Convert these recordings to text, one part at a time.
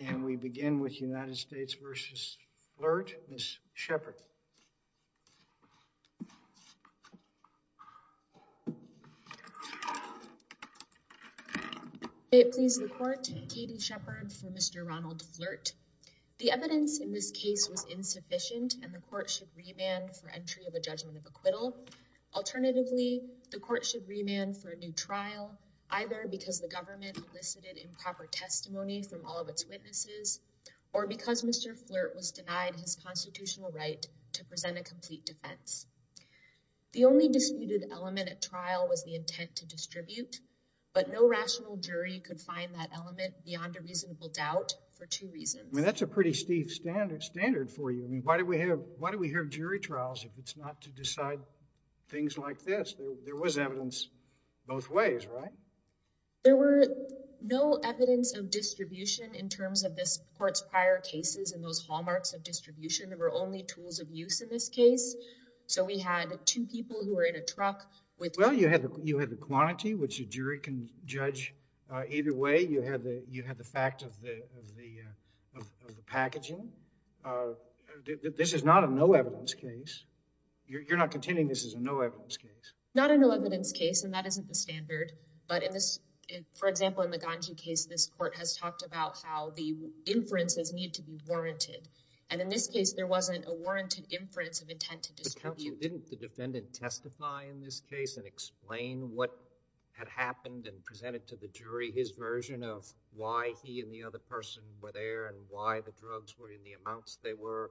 And we begin with United States v. Flirt, Ms. Shepard. May it please the Court, Katie Shepard for Mr. Ronald Flirt. The evidence in this case was insufficient and the Court should remand for entry of a judgment of acquittal. Alternatively, the Court should remand for a new trial, either because the government elicited improper testimony from all of its witnesses, or because Mr. Flirt was denied his constitutional right to present a complete defense. The only disputed element at trial was the intent to distribute, but no rational jury could find that element beyond a reasonable doubt for two reasons. I mean, that's a pretty stiff standard for you. I mean, why do we have jury trials if it's not to decide things like this? There was evidence both ways, right? There were no evidence of distribution in terms of this Court's prior cases and those hallmarks of distribution. There were only tools of use in this case. So we had two people who were in a truck with… Well, you had the quantity, which a jury can judge either way. You had the fact of the packaging. This is not a no-evidence case. You're not contending this is a no-evidence case? Not a no-evidence case, and that isn't the standard. But for example, in the Ganji case, this Court has talked about how the inferences need to be warranted. And in this case, there wasn't a warranted inference of intent to distribute. But counsel, didn't the defendant testify in this case and explain what had happened and present it to the jury, his version of why he and the other person were there and why the drugs were in the amounts they were?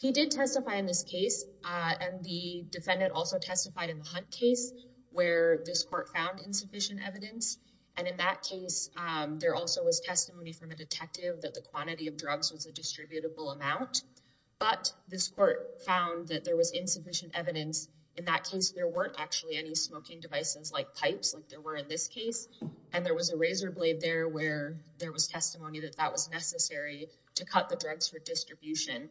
He did testify in this case, and the defendant also testified in the Hunt case, where this Court found insufficient evidence. And in that case, there also was testimony from a detective that the quantity of drugs was a distributable amount. But this Court found that there was insufficient evidence. In that case, there weren't actually any smoking devices like pipes like there were in this case. And there was a razor blade there where there was testimony that that was necessary to cut the drugs for distribution.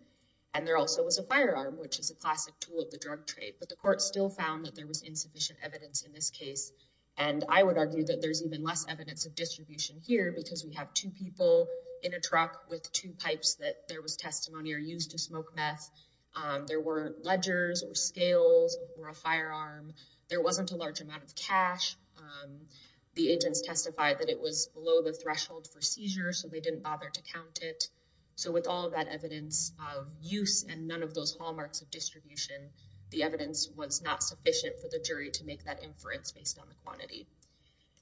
And there also was a firearm, which is a classic tool of the drug trade. But the Court still found that there was insufficient evidence in this case. And I would argue that there's even less evidence of distribution here because we have two people in a truck with two pipes that there was testimony or used to smoke meth. There were ledgers or scales or a firearm. There wasn't a large amount of cash. The agents testified that it was below the threshold for seizure, so they didn't bother to count it. So with all of that evidence of use and none of those hallmarks of distribution, the evidence was not sufficient for the jury to make that inference based on the quantity.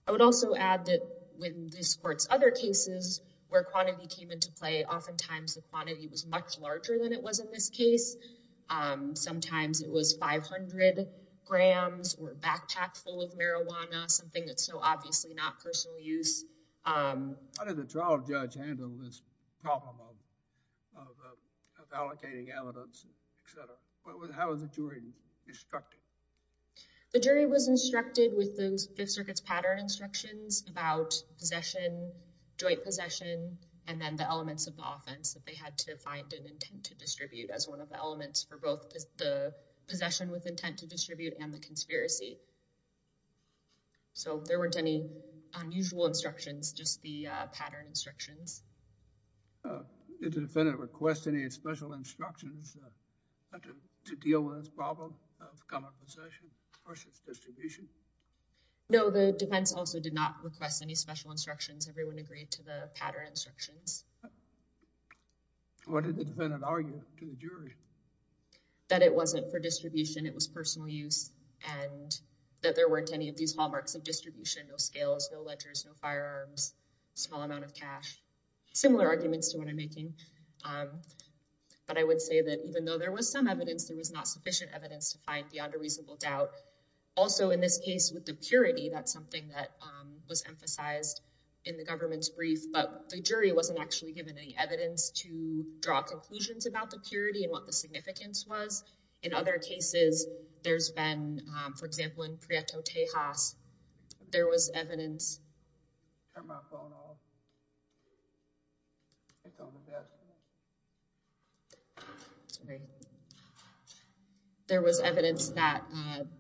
I would also add that with this Court's other cases where quantity came into play, oftentimes the quantity was much larger than it was in this case. Sometimes it was 500 grams or a backpack full of marijuana, something that's so obviously not personal use. How did the trial judge handle this problem of allocating evidence, et cetera? How was the jury instructed? The jury was instructed with the Fifth Circuit's pattern instructions about possession, joint possession, and then the elements of the offense that they had to find an intent to distribute as one of the elements for both the possession with intent to distribute and the conspiracy. So there weren't any unusual instructions, just the pattern instructions. Did the defendant request any special instructions to deal with this problem of common possession versus distribution? No, the defense also did not request any special instructions. Everyone agreed to the pattern instructions. What did the defendant argue to the jury? That it wasn't for distribution, it was personal use, and that there weren't any of these hallmarks of distribution, no scales, no ledgers, no firearms, small amount of cash, similar arguments to what I'm making. But I would say that even though there was some evidence, there was not sufficient evidence to find beyond a reasonable doubt. Also, in this case with the purity, that's something that was emphasized in the government's brief, but the jury wasn't actually given any evidence to draw conclusions about the purity and what the significance was. In other cases, there's been, for example, in Prieto Tejas, there was evidence that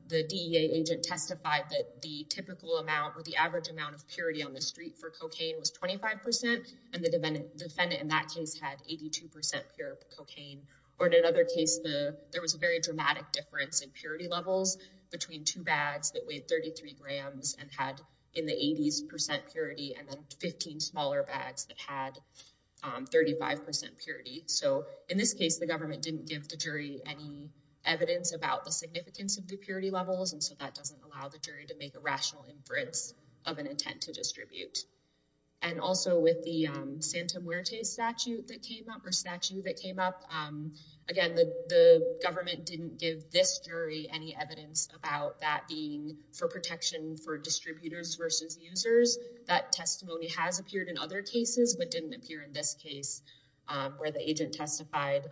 the DEA agent testified that the typical amount or the average amount of purity on the street for cocaine was 25%, and the defendant in that case had 82% pure cocaine. Or in another case, there was a very dramatic difference in purity levels between two bags that weighed 33 grams and had in the 80s percent purity and then 15 smaller bags that had 35% purity. So in this case, the government didn't give the jury any evidence about the significance of the purity levels, and so that doesn't allow the jury to make a rational inference of an intent to distribute. And also with the Santa Muerte statute that came up, or statute that came up, again, the government didn't give this jury any evidence about that being for protection for distributors versus users. That testimony has appeared in other cases, but didn't appear in this case where the agent testified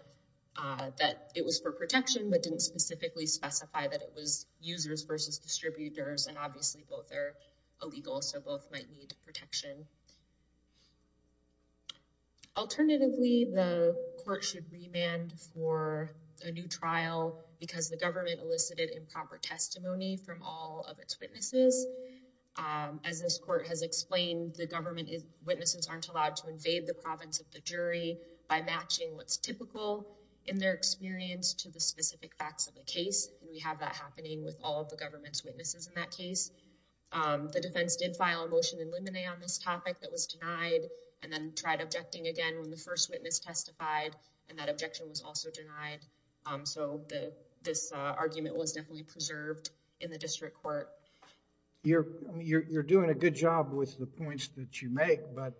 that it was for protection, but didn't specifically specify that it was users versus distributors. And obviously, both are illegal, so both might need protection. Alternatively, the court should remand for a new trial because the government elicited improper testimony from all of its witnesses. As this court has explained, the government witnesses aren't allowed to invade the province of the jury by matching what's typical in their experience to the specific facts of the case. And we have that happening with all of the government's witnesses in that case. The defense did file a motion in limine on this topic that was denied and then tried objecting again when the first witness testified, and that objection was also denied. So this argument was definitely preserved in the district court. You're doing a good job with the points that you make, but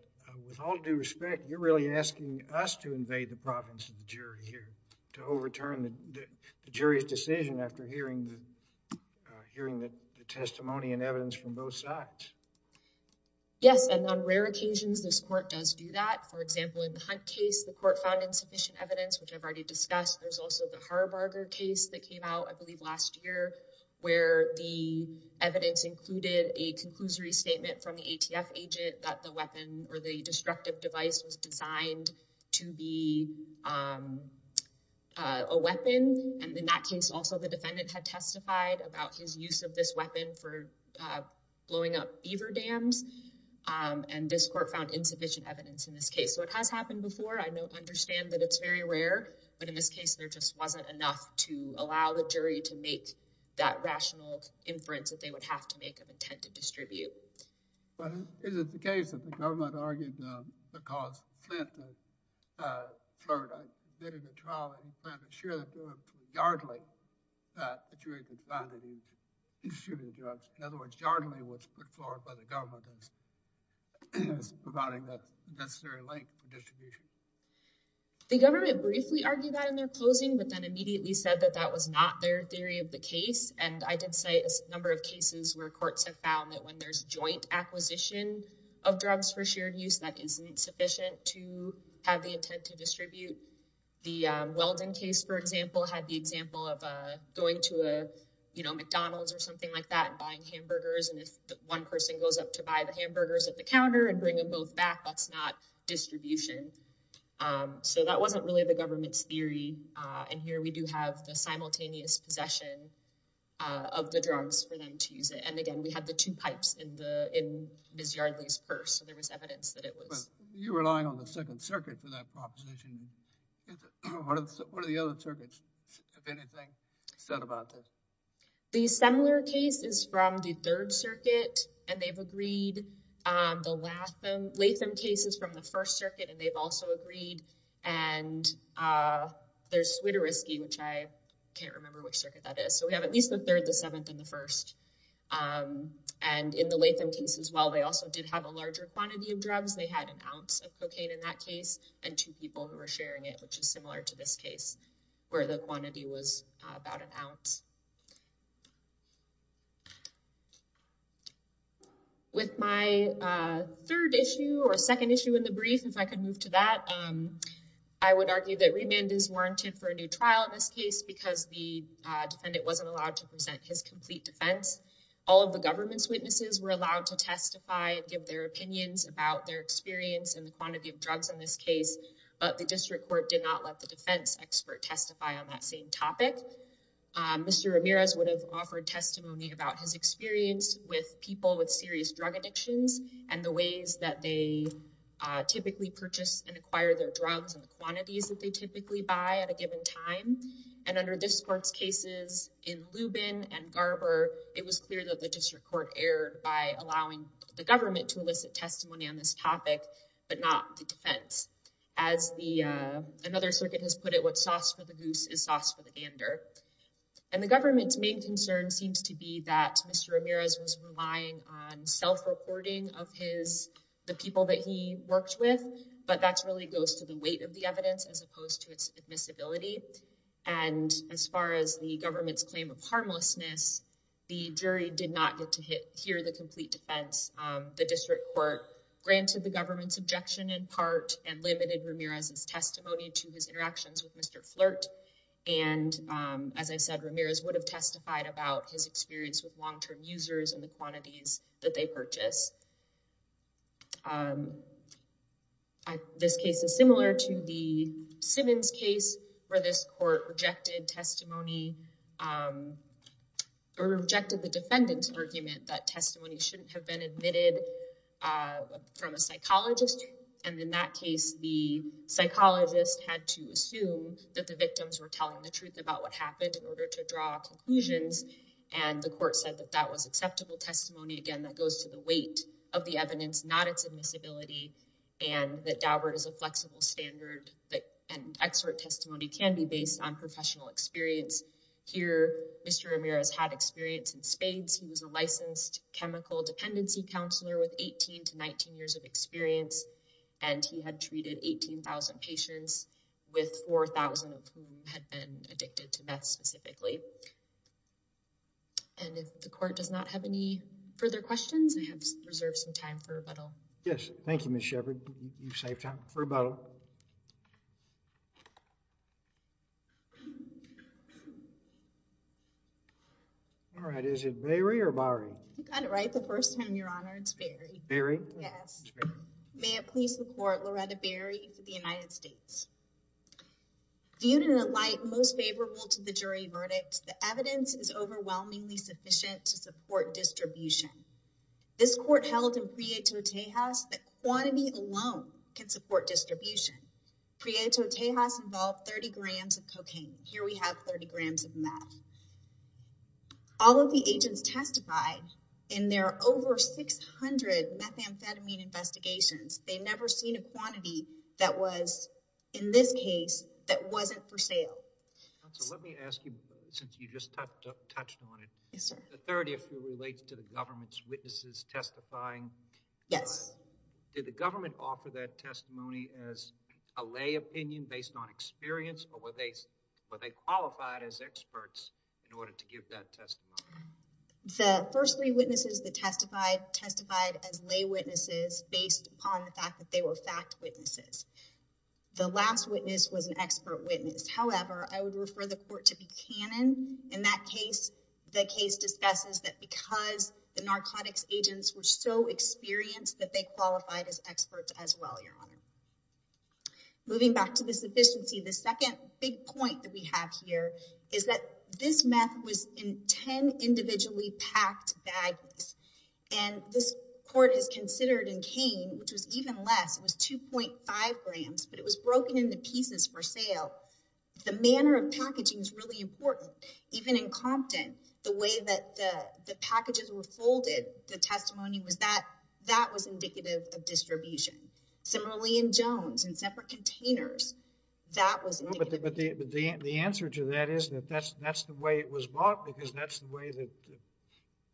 with all due respect, you're really asking us to invade the province of the jury here, to overturn the jury's decision after hearing the testimony and evidence from both sides. Yes, and on rare occasions, this court does do that. For example, in the Hunt case, the court found insufficient evidence, which I've already discussed. There's also the Harbarger case that came out, I believe, last year, where the evidence included a conclusory statement from the ATF agent that the weapon or the destructive device was designed to be a weapon. And in that case, also, the defendant had testified about his use of this weapon for blowing up beaver dams. And this court found insufficient evidence in this case. So it has happened before. I understand that it's very rare. But in this case, there just wasn't enough to allow the jury to make that rational inference that they would have to make of intent to distribute. But is it the case that the government argued the cause of the Flint flirt? They did a trial in Flint to assure that it was Yardley that the jury could find that he distributed drugs. In other words, Yardley was put forward by the government as providing the necessary link for distribution. The government briefly argued that in their closing, but then immediately said that that was not their theory of the case. And I did say a number of cases where courts have found that when there's joint acquisition of drugs for shared use, that isn't sufficient to have the intent to distribute. The Weldon case, for example, had the example of going to a McDonald's or something like that and buying hamburgers. And if one person goes up to buy the hamburgers at the counter and bring them both back, that's not distribution. So that wasn't really the government's theory. And here we do have the simultaneous possession of the drugs for them to use it. And again, we have the two pipes in Ms. Yardley's purse. You're relying on the Second Circuit for that proposition. What are the other circuits, if anything, said about this? The similar case is from the Third Circuit, and they've agreed. The Latham case is from the First Circuit, and they've also agreed. And there's Swiderisky, which I can't remember which circuit that is. So we have at least the Third, the Seventh, and the First. And in the Latham case as well, they also did have a larger quantity of drugs. They had an ounce of cocaine in that case and two people who were sharing it, which is similar to this case, where the quantity was about an ounce. With my third issue or second issue in the brief, if I could move to that, I would argue that remand is warranted for a new trial in this case because the defendant wasn't allowed to present his complete defense. All of the government's witnesses were allowed to testify, give their opinions about their experience and the quantity of drugs in this case. But the district court did not let the defense expert testify on that same topic. Mr. Ramirez would have offered testimony about his experience with people with serious drug addictions and the ways that they typically purchase and acquire their drugs and the quantities that they typically buy at a given time. And under this court's cases in Lubin and Garber, it was clear that the district court erred by allowing the government to elicit testimony on this topic, but not the defense. As another circuit has put it, what's sauce for the goose is sauce for the gander. And the government's main concern seems to be that Mr. Ramirez was relying on self-reporting of the people that he worked with, but that really goes to the weight of the evidence as opposed to its admissibility. And as far as the government's claim of harmlessness, the jury did not get to hear the complete defense. The district court granted the government's objection in part and limited Ramirez's testimony to his interactions with Mr. flirt. And, as I said, Ramirez would have testified about his experience with long term users and the quantities that they purchase. This case is similar to the Simmons case where this court rejected testimony or rejected the defendant's argument that testimony shouldn't have been admitted from a psychologist. And in that case, the psychologist had to assume that the victims were telling the truth about what happened in order to draw conclusions. And the court said that that was acceptable testimony. Again, that goes to the weight of the evidence, not its admissibility. And if the court does not have any further questions, I have reserved some time for rebuttal. Yes, thank you, Ms. Shepard. You saved time for rebuttal. All right, is it Mary or Barry? You got it right the first time, Your Honor. It's Barry. Barry? Yes. May it please the court, Loretta Barry for the United States. Viewed in a light most favorable to the jury verdict, the evidence is overwhelmingly sufficient to support distribution. This court held in Prieto Tejas that quantity alone can support distribution. Prieto Tejas involved 30 grams of cocaine. Here we have 30 grams of meth. All of the agents testified in their over 600 methamphetamine investigations. They never seen a quantity that was, in this case, that wasn't for sale. Counsel, let me ask you, since you just touched on it. Yes, sir. The third issue relates to the government's witnesses testifying. Yes. Did the government offer that testimony as a lay opinion based on experience, or were they qualified as experts in order to give that testimony? The first three witnesses that testified testified as lay witnesses based upon the fact that they were fact witnesses. The last witness was an expert witness. However, I would refer the court to Buchanan. In that case, the case discusses that because the narcotics agents were so experienced that they qualified as experts as well, Your Honor. Moving back to the sufficiency, the second big point that we have here is that this meth was in 10 individually packed bags. And this court has considered in Kane, which was even less. It was 2.5 grams, but it was broken into pieces for sale. The manner of packaging is really important. Even in Compton, the way that the packages were folded, the testimony was that that was indicative of distribution. Similarly, in Jones, in separate containers, that was indicative. But the answer to that is that that's the way it was bought because that's the way the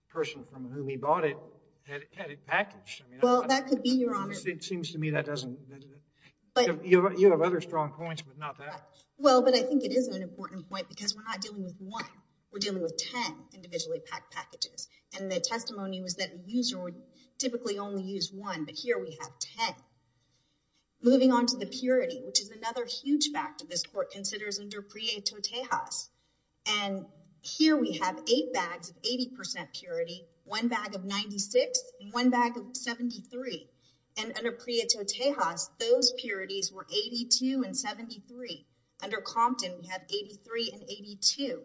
person from whom he bought it had it packaged. Well, that could be, Your Honor. It seems to me that doesn't... You have other strong points, but not that. Well, but I think it is an important point because we're not dealing with one. We're dealing with 10 individually packed packages. And the testimony was that the user would typically only use one, but here we have 10. Moving on to the purity, which is another huge factor this court considers under Prieto-Tejas. And here we have 8 bags of 80% purity, 1 bag of 96, and 1 bag of 73. And under Prieto-Tejas, those purities were 82 and 73. Under Compton, we have 83 and 82.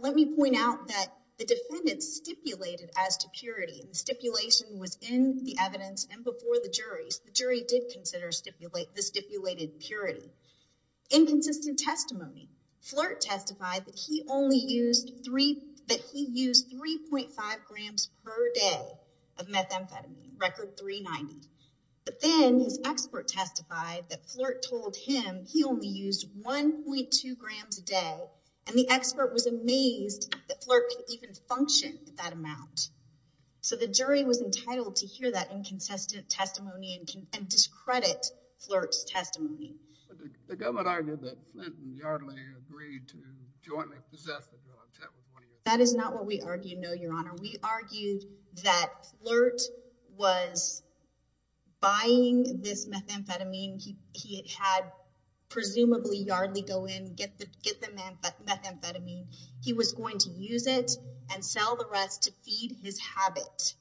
Let me point out that the defendant stipulated as to purity. The stipulation was in the evidence and before the jury. The jury did consider the stipulated purity. In consistent testimony, Flirt testified that he used 3.5 grams per day of methamphetamine, record 390. But then his expert testified that Flirt told him he only used 1.2 grams a day. And the expert was amazed that Flirt could even function at that amount. So the jury was entitled to hear that inconsistent testimony and discredit Flirt's testimony. The government argued that Flint and Yardley agreed to jointly possess the drugs. That is not what we argued, no, Your Honor. We argued that Flirt was buying this methamphetamine. He had presumably Yardley go in and get the methamphetamine. He was going to use it and sell the rest to feed his habit.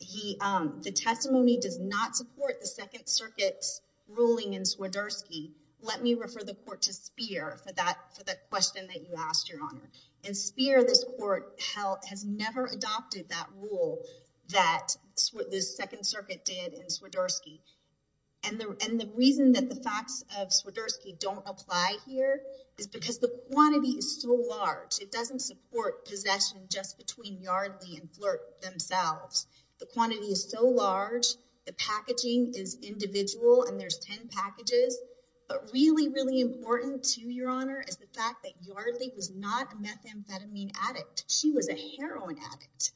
The testimony does not support the Second Circuit's ruling in Swiderski. Let me refer the court to Speer for that question that you asked, Your Honor. In Speer, this court has never adopted that rule that the Second Circuit did in Swiderski. And the reason that the facts of Swiderski don't apply here is because the quantity is so large. It doesn't support possession just between Yardley and Flirt themselves. The quantity is so large. The packaging is individual, and there's 10 packages. But really, really important to you, Your Honor, is the fact that Yardley was not a methamphetamine addict. She was a heroin addict.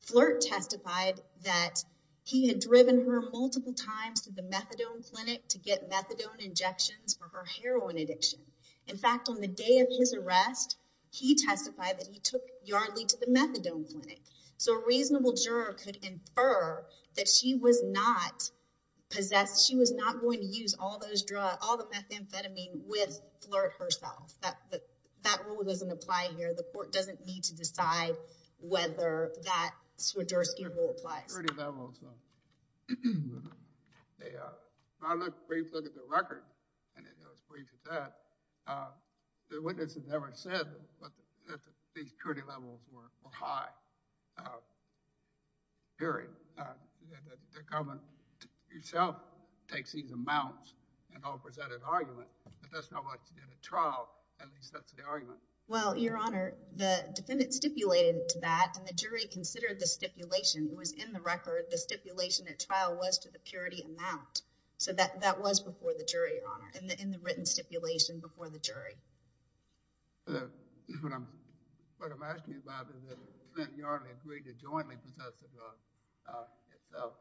Flirt testified that he had driven her multiple times to the methadone clinic to get methadone injections for her heroin addiction. In fact, on the day of his arrest, he testified that he took Yardley to the methadone clinic. So a reasonable juror could infer that she was not going to use all the methamphetamine with Flirt herself. That rule doesn't apply here. So the court doesn't need to decide whether that Swiderski rule applies. The security levels. I looked briefly at the record, and it was brief as that. The witness has never said that these security levels were high. Period. The government itself takes these amounts and offers that as argument. But that's not what's in a trial. At least that's the argument. Well, Your Honor, the defendant stipulated to that, and the jury considered the stipulation. It was in the record. The stipulation at trial was to the purity amount. So that was before the jury, Your Honor, in the written stipulation before the jury. What I'm asking about is that Yardley agreed to jointly possess the drug itself.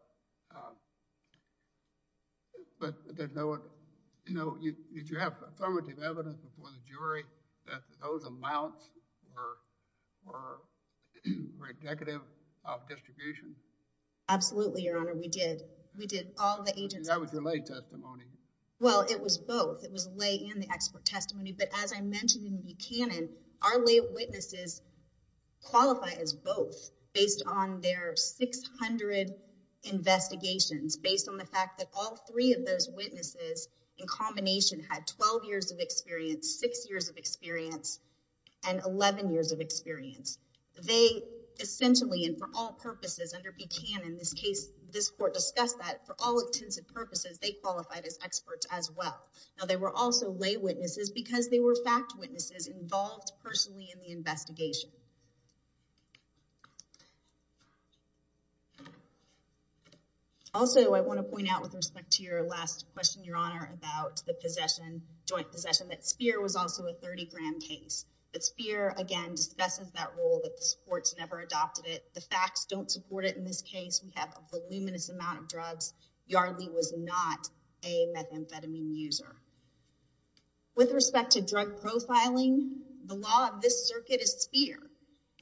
But did you have affirmative evidence before the jury that those amounts were indicative of distribution? Absolutely, Your Honor. We did. We did. That was your lay testimony. Well, it was both. It was lay and the expert testimony. But as I mentioned in Buchanan, our lay witnesses qualify as both based on their 600 investigations. Based on the fact that all three of those witnesses in combination had 12 years of experience, 6 years of experience, and 11 years of experience. They essentially, and for all purposes under Buchanan, this court discussed that, for all intents and purposes, they qualified as experts as well. Now, they were also lay witnesses because they were fact witnesses involved personally in the investigation. Also, I want to point out with respect to your last question, Your Honor, about the joint possession, that Speer was also a 30-gram case. But Speer, again, discusses that rule that the courts never adopted it. The facts don't support it in this case. Yardley was not a methamphetamine user. With respect to drug profiling, the law of this circuit is Speer.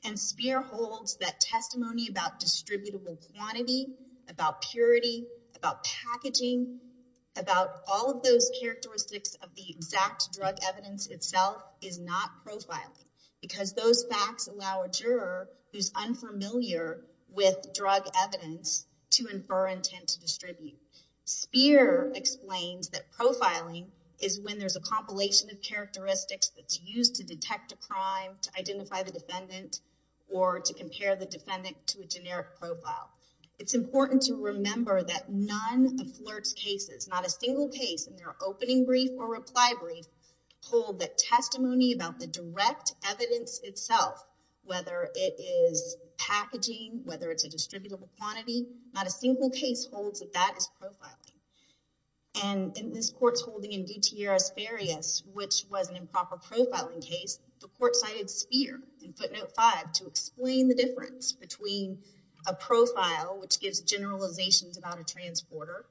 And Speer holds that testimony about distributable quantity, about purity, about packaging, about all of those characteristics of the exact drug evidence itself is not profiling. Because those facts allow a juror who's unfamiliar with drug evidence to infer intent to distribute. Speer explains that profiling is when there's a compilation of characteristics that's used to detect a crime, to identify the defendant, or to compare the defendant to a generic profile. It's important to remember that none of FLIRT's cases, not a single case in their opening brief or reply brief, hold that testimony about the direct evidence itself. Whether it is packaging, whether it's a distributable quantity, not a single case holds that that is profiling. And in this court's holding in DTRS Farias, which was an improper profiling case, the court cited Speer in footnote five to explain the difference between a profile, which gives generalizations about a transporter,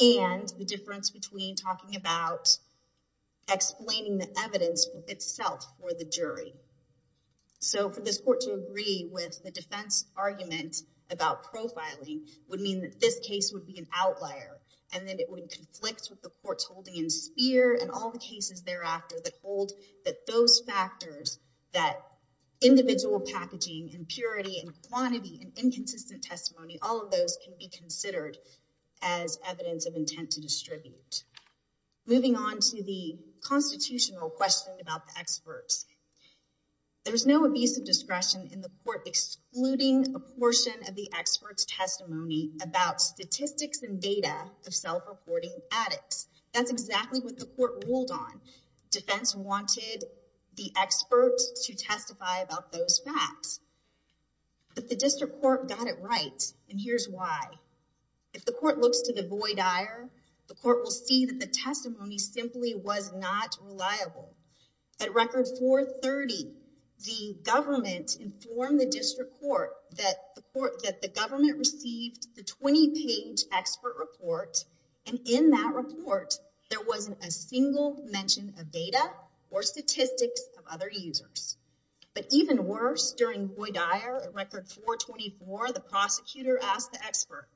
and the difference between talking about explaining the evidence itself for the jury. So for this court to agree with the defense argument about profiling would mean that this case would be an outlier. And then it would conflict with the court's holding in Speer and all the cases thereafter that hold that those factors, that individual packaging and purity and quantity and inconsistent testimony, all of those can be considered as evidence of intent to distribute. Moving on to the constitutional question about the experts. There's no abuse of discretion in the court excluding a portion of the expert's testimony about statistics and data of self-reporting addicts. That's exactly what the court ruled on. Defense wanted the experts to testify about those facts. But the district court got it right, and here's why. If the court looks to the void dire, the court will see that the testimony simply was not reliable. At record 430, the government informed the district court that the government received the 20-page expert report, and in that report, there wasn't a single mention of data or statistics of other users. But even worse, during void dire at record 424, the prosecutor asked the expert,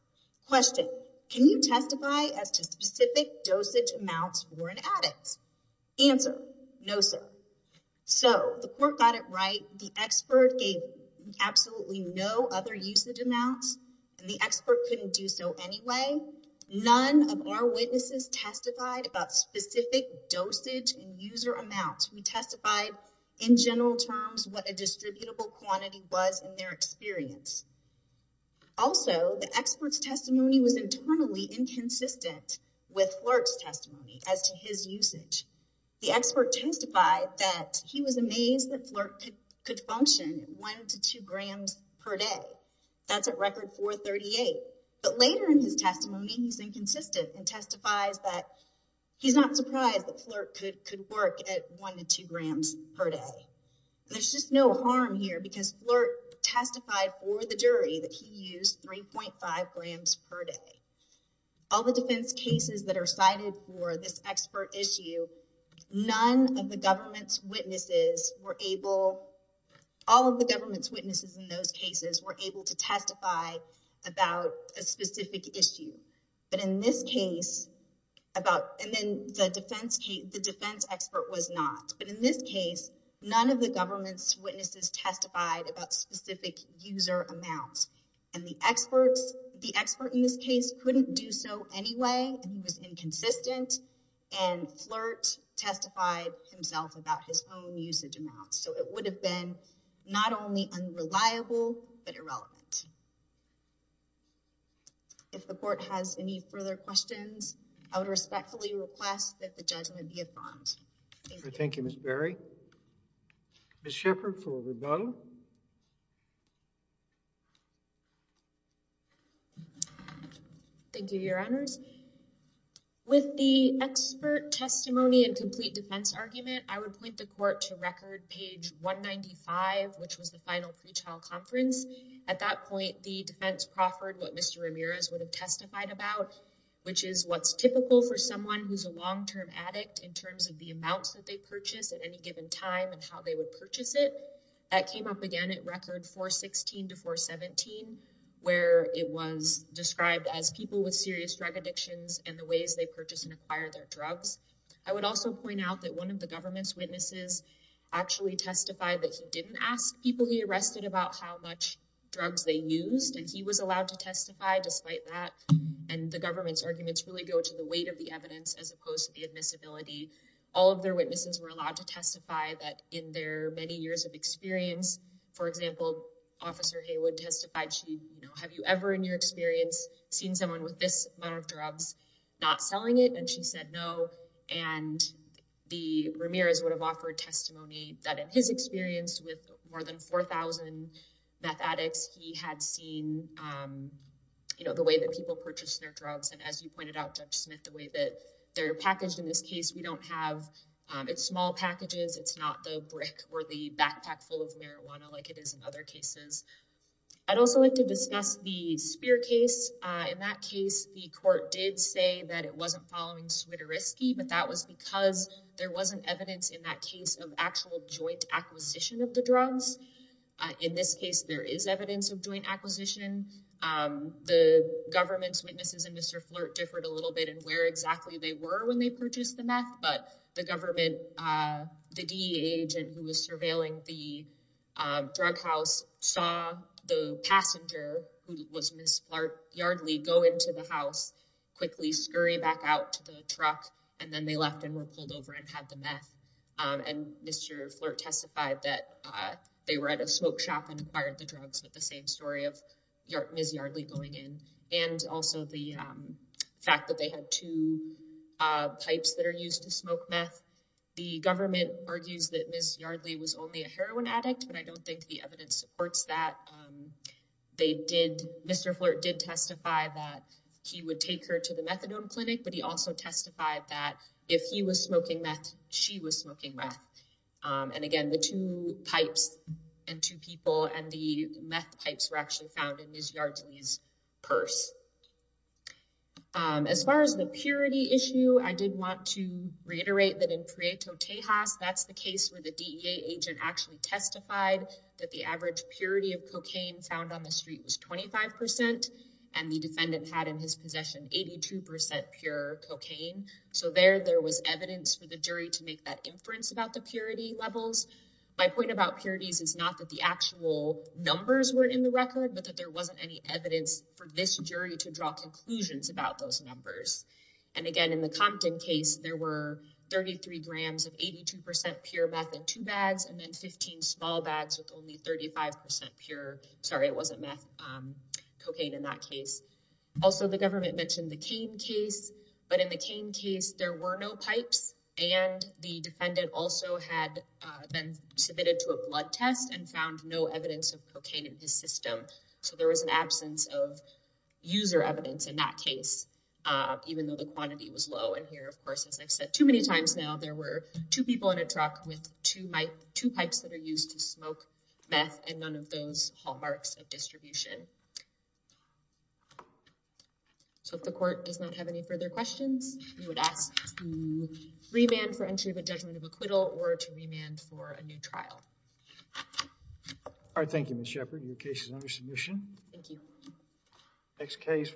question, can you testify as to specific dosage amounts for an addict? Answer, no, sir. So the court got it right. The expert gave absolutely no other usage amounts, and the expert couldn't do so anyway. None of our witnesses testified about specific dosage and user amounts. We testified in general terms what a distributable quantity was in their experience. Also, the expert's testimony was internally inconsistent with Flerk's testimony as to his usage. The expert testified that he was amazed that Flerk could function 1 to 2 grams per day. That's at record 438. But later in his testimony, he's inconsistent and testifies that he's not surprised that Flerk could work at 1 to 2 grams per day. There's just no harm here because Flerk testified for the jury that he used 3.5 grams per day. All the defense cases that are cited for this expert issue, all of the government's witnesses in those cases were able to testify about a specific issue. But in this case, the defense expert was not. But in this case, none of the government's witnesses testified about specific user amounts. And the expert in this case couldn't do so anyway. He was inconsistent, and Flerk testified himself about his own usage amounts. So it would have been not only unreliable, but irrelevant. If the court has any further questions, I would respectfully request that the judge may be affirmed. Thank you, Ms. Berry. Ms. Shepherd for rebuttal. Thank you, Your Honors. With the expert testimony and complete defense argument, I would point the court to record page 195, which was the final pre-trial conference. At that point, the defense proffered what Mr. Ramirez would have testified about, which is what's typical for someone who's a long-term addict in terms of the amounts that they purchase at any given time and how they would purchase it. That came up again at record 416 to 417, where it was described as people with serious drug addictions and the ways they purchase and acquire their drugs. I would also point out that one of the government's witnesses actually testified that he didn't ask people he arrested about how much drugs they used. And he was allowed to testify despite that. And the government's arguments really go to the weight of the evidence as opposed to the admissibility. All of their witnesses were allowed to testify that in their many years of experience. For example, Officer Haywood testified, have you ever in your experience seen someone with this amount of drugs not selling it? And she said, no. And the Ramirez would have offered testimony that in his experience with more than 4000 meth addicts, he had seen the way that people purchase their drugs. And as you pointed out, Judge Smith, the way that they're packaged in this case, we don't have it's small packages. It's not the brick or the backpack full of marijuana like it is in other cases. I'd also like to discuss the spear case. In that case, the court did say that it wasn't following, but that was because there wasn't evidence in that case of actual joint acquisition of the drugs. In this case, there is evidence of joint acquisition. The government's witnesses and Mr. Flirt differed a little bit and where exactly they were when they purchased the meth. But the government, the D agent who was surveilling the drug house saw the passenger who was Ms. Yardley go into the house, quickly scurry back out to the truck. And then they left and were pulled over and had the meth. And Mr. Flirt testified that they were at a smoke shop and acquired the drugs with the same story of Miss Yardley going in. And also the fact that they had two pipes that are used to smoke meth. The government argues that Ms. Yardley was only a heroin addict, but I don't think the evidence supports that. They did, Mr. Flirt did testify that he would take her to the methadone clinic, but he also testified that if he was smoking meth, she was smoking meth. And again, the two pipes and two people and the meth pipes were actually found in his purse. As far as the purity issue, I did want to reiterate that in Prieto Tejas, that's the case where the DEA agent actually testified that the average purity of cocaine found on the street was 25% and the defendant had in his possession, 82% pure cocaine. So there, there was evidence for the jury to make that inference about the purity levels. My point about purities is not that the actual numbers were in the record, but that there wasn't any evidence for this jury to draw conclusions about those numbers. And again, in the Compton case, there were 33 grams of 82% pure meth in two bags and then 15 small bags with only 35% pure. Sorry, it wasn't meth cocaine in that case. Also, the government mentioned the cane case, but in the cane case, there were no pipes and the defendant also had been submitted to a blood test and found no evidence of cocaine in his system. So there was an absence of user evidence in that case, even though the quantity was low. And here, of course, as I've said too many times now, there were two people in a truck with two pipes that are used to smoke meth and none of those hallmarks of distribution. So if the court does not have any further questions, you would ask to remand for entry of a judgment of acquittal or to remand for a new trial. All right. Thank you, Ms. Shepard. Your case is under submission. Thank you. Next case.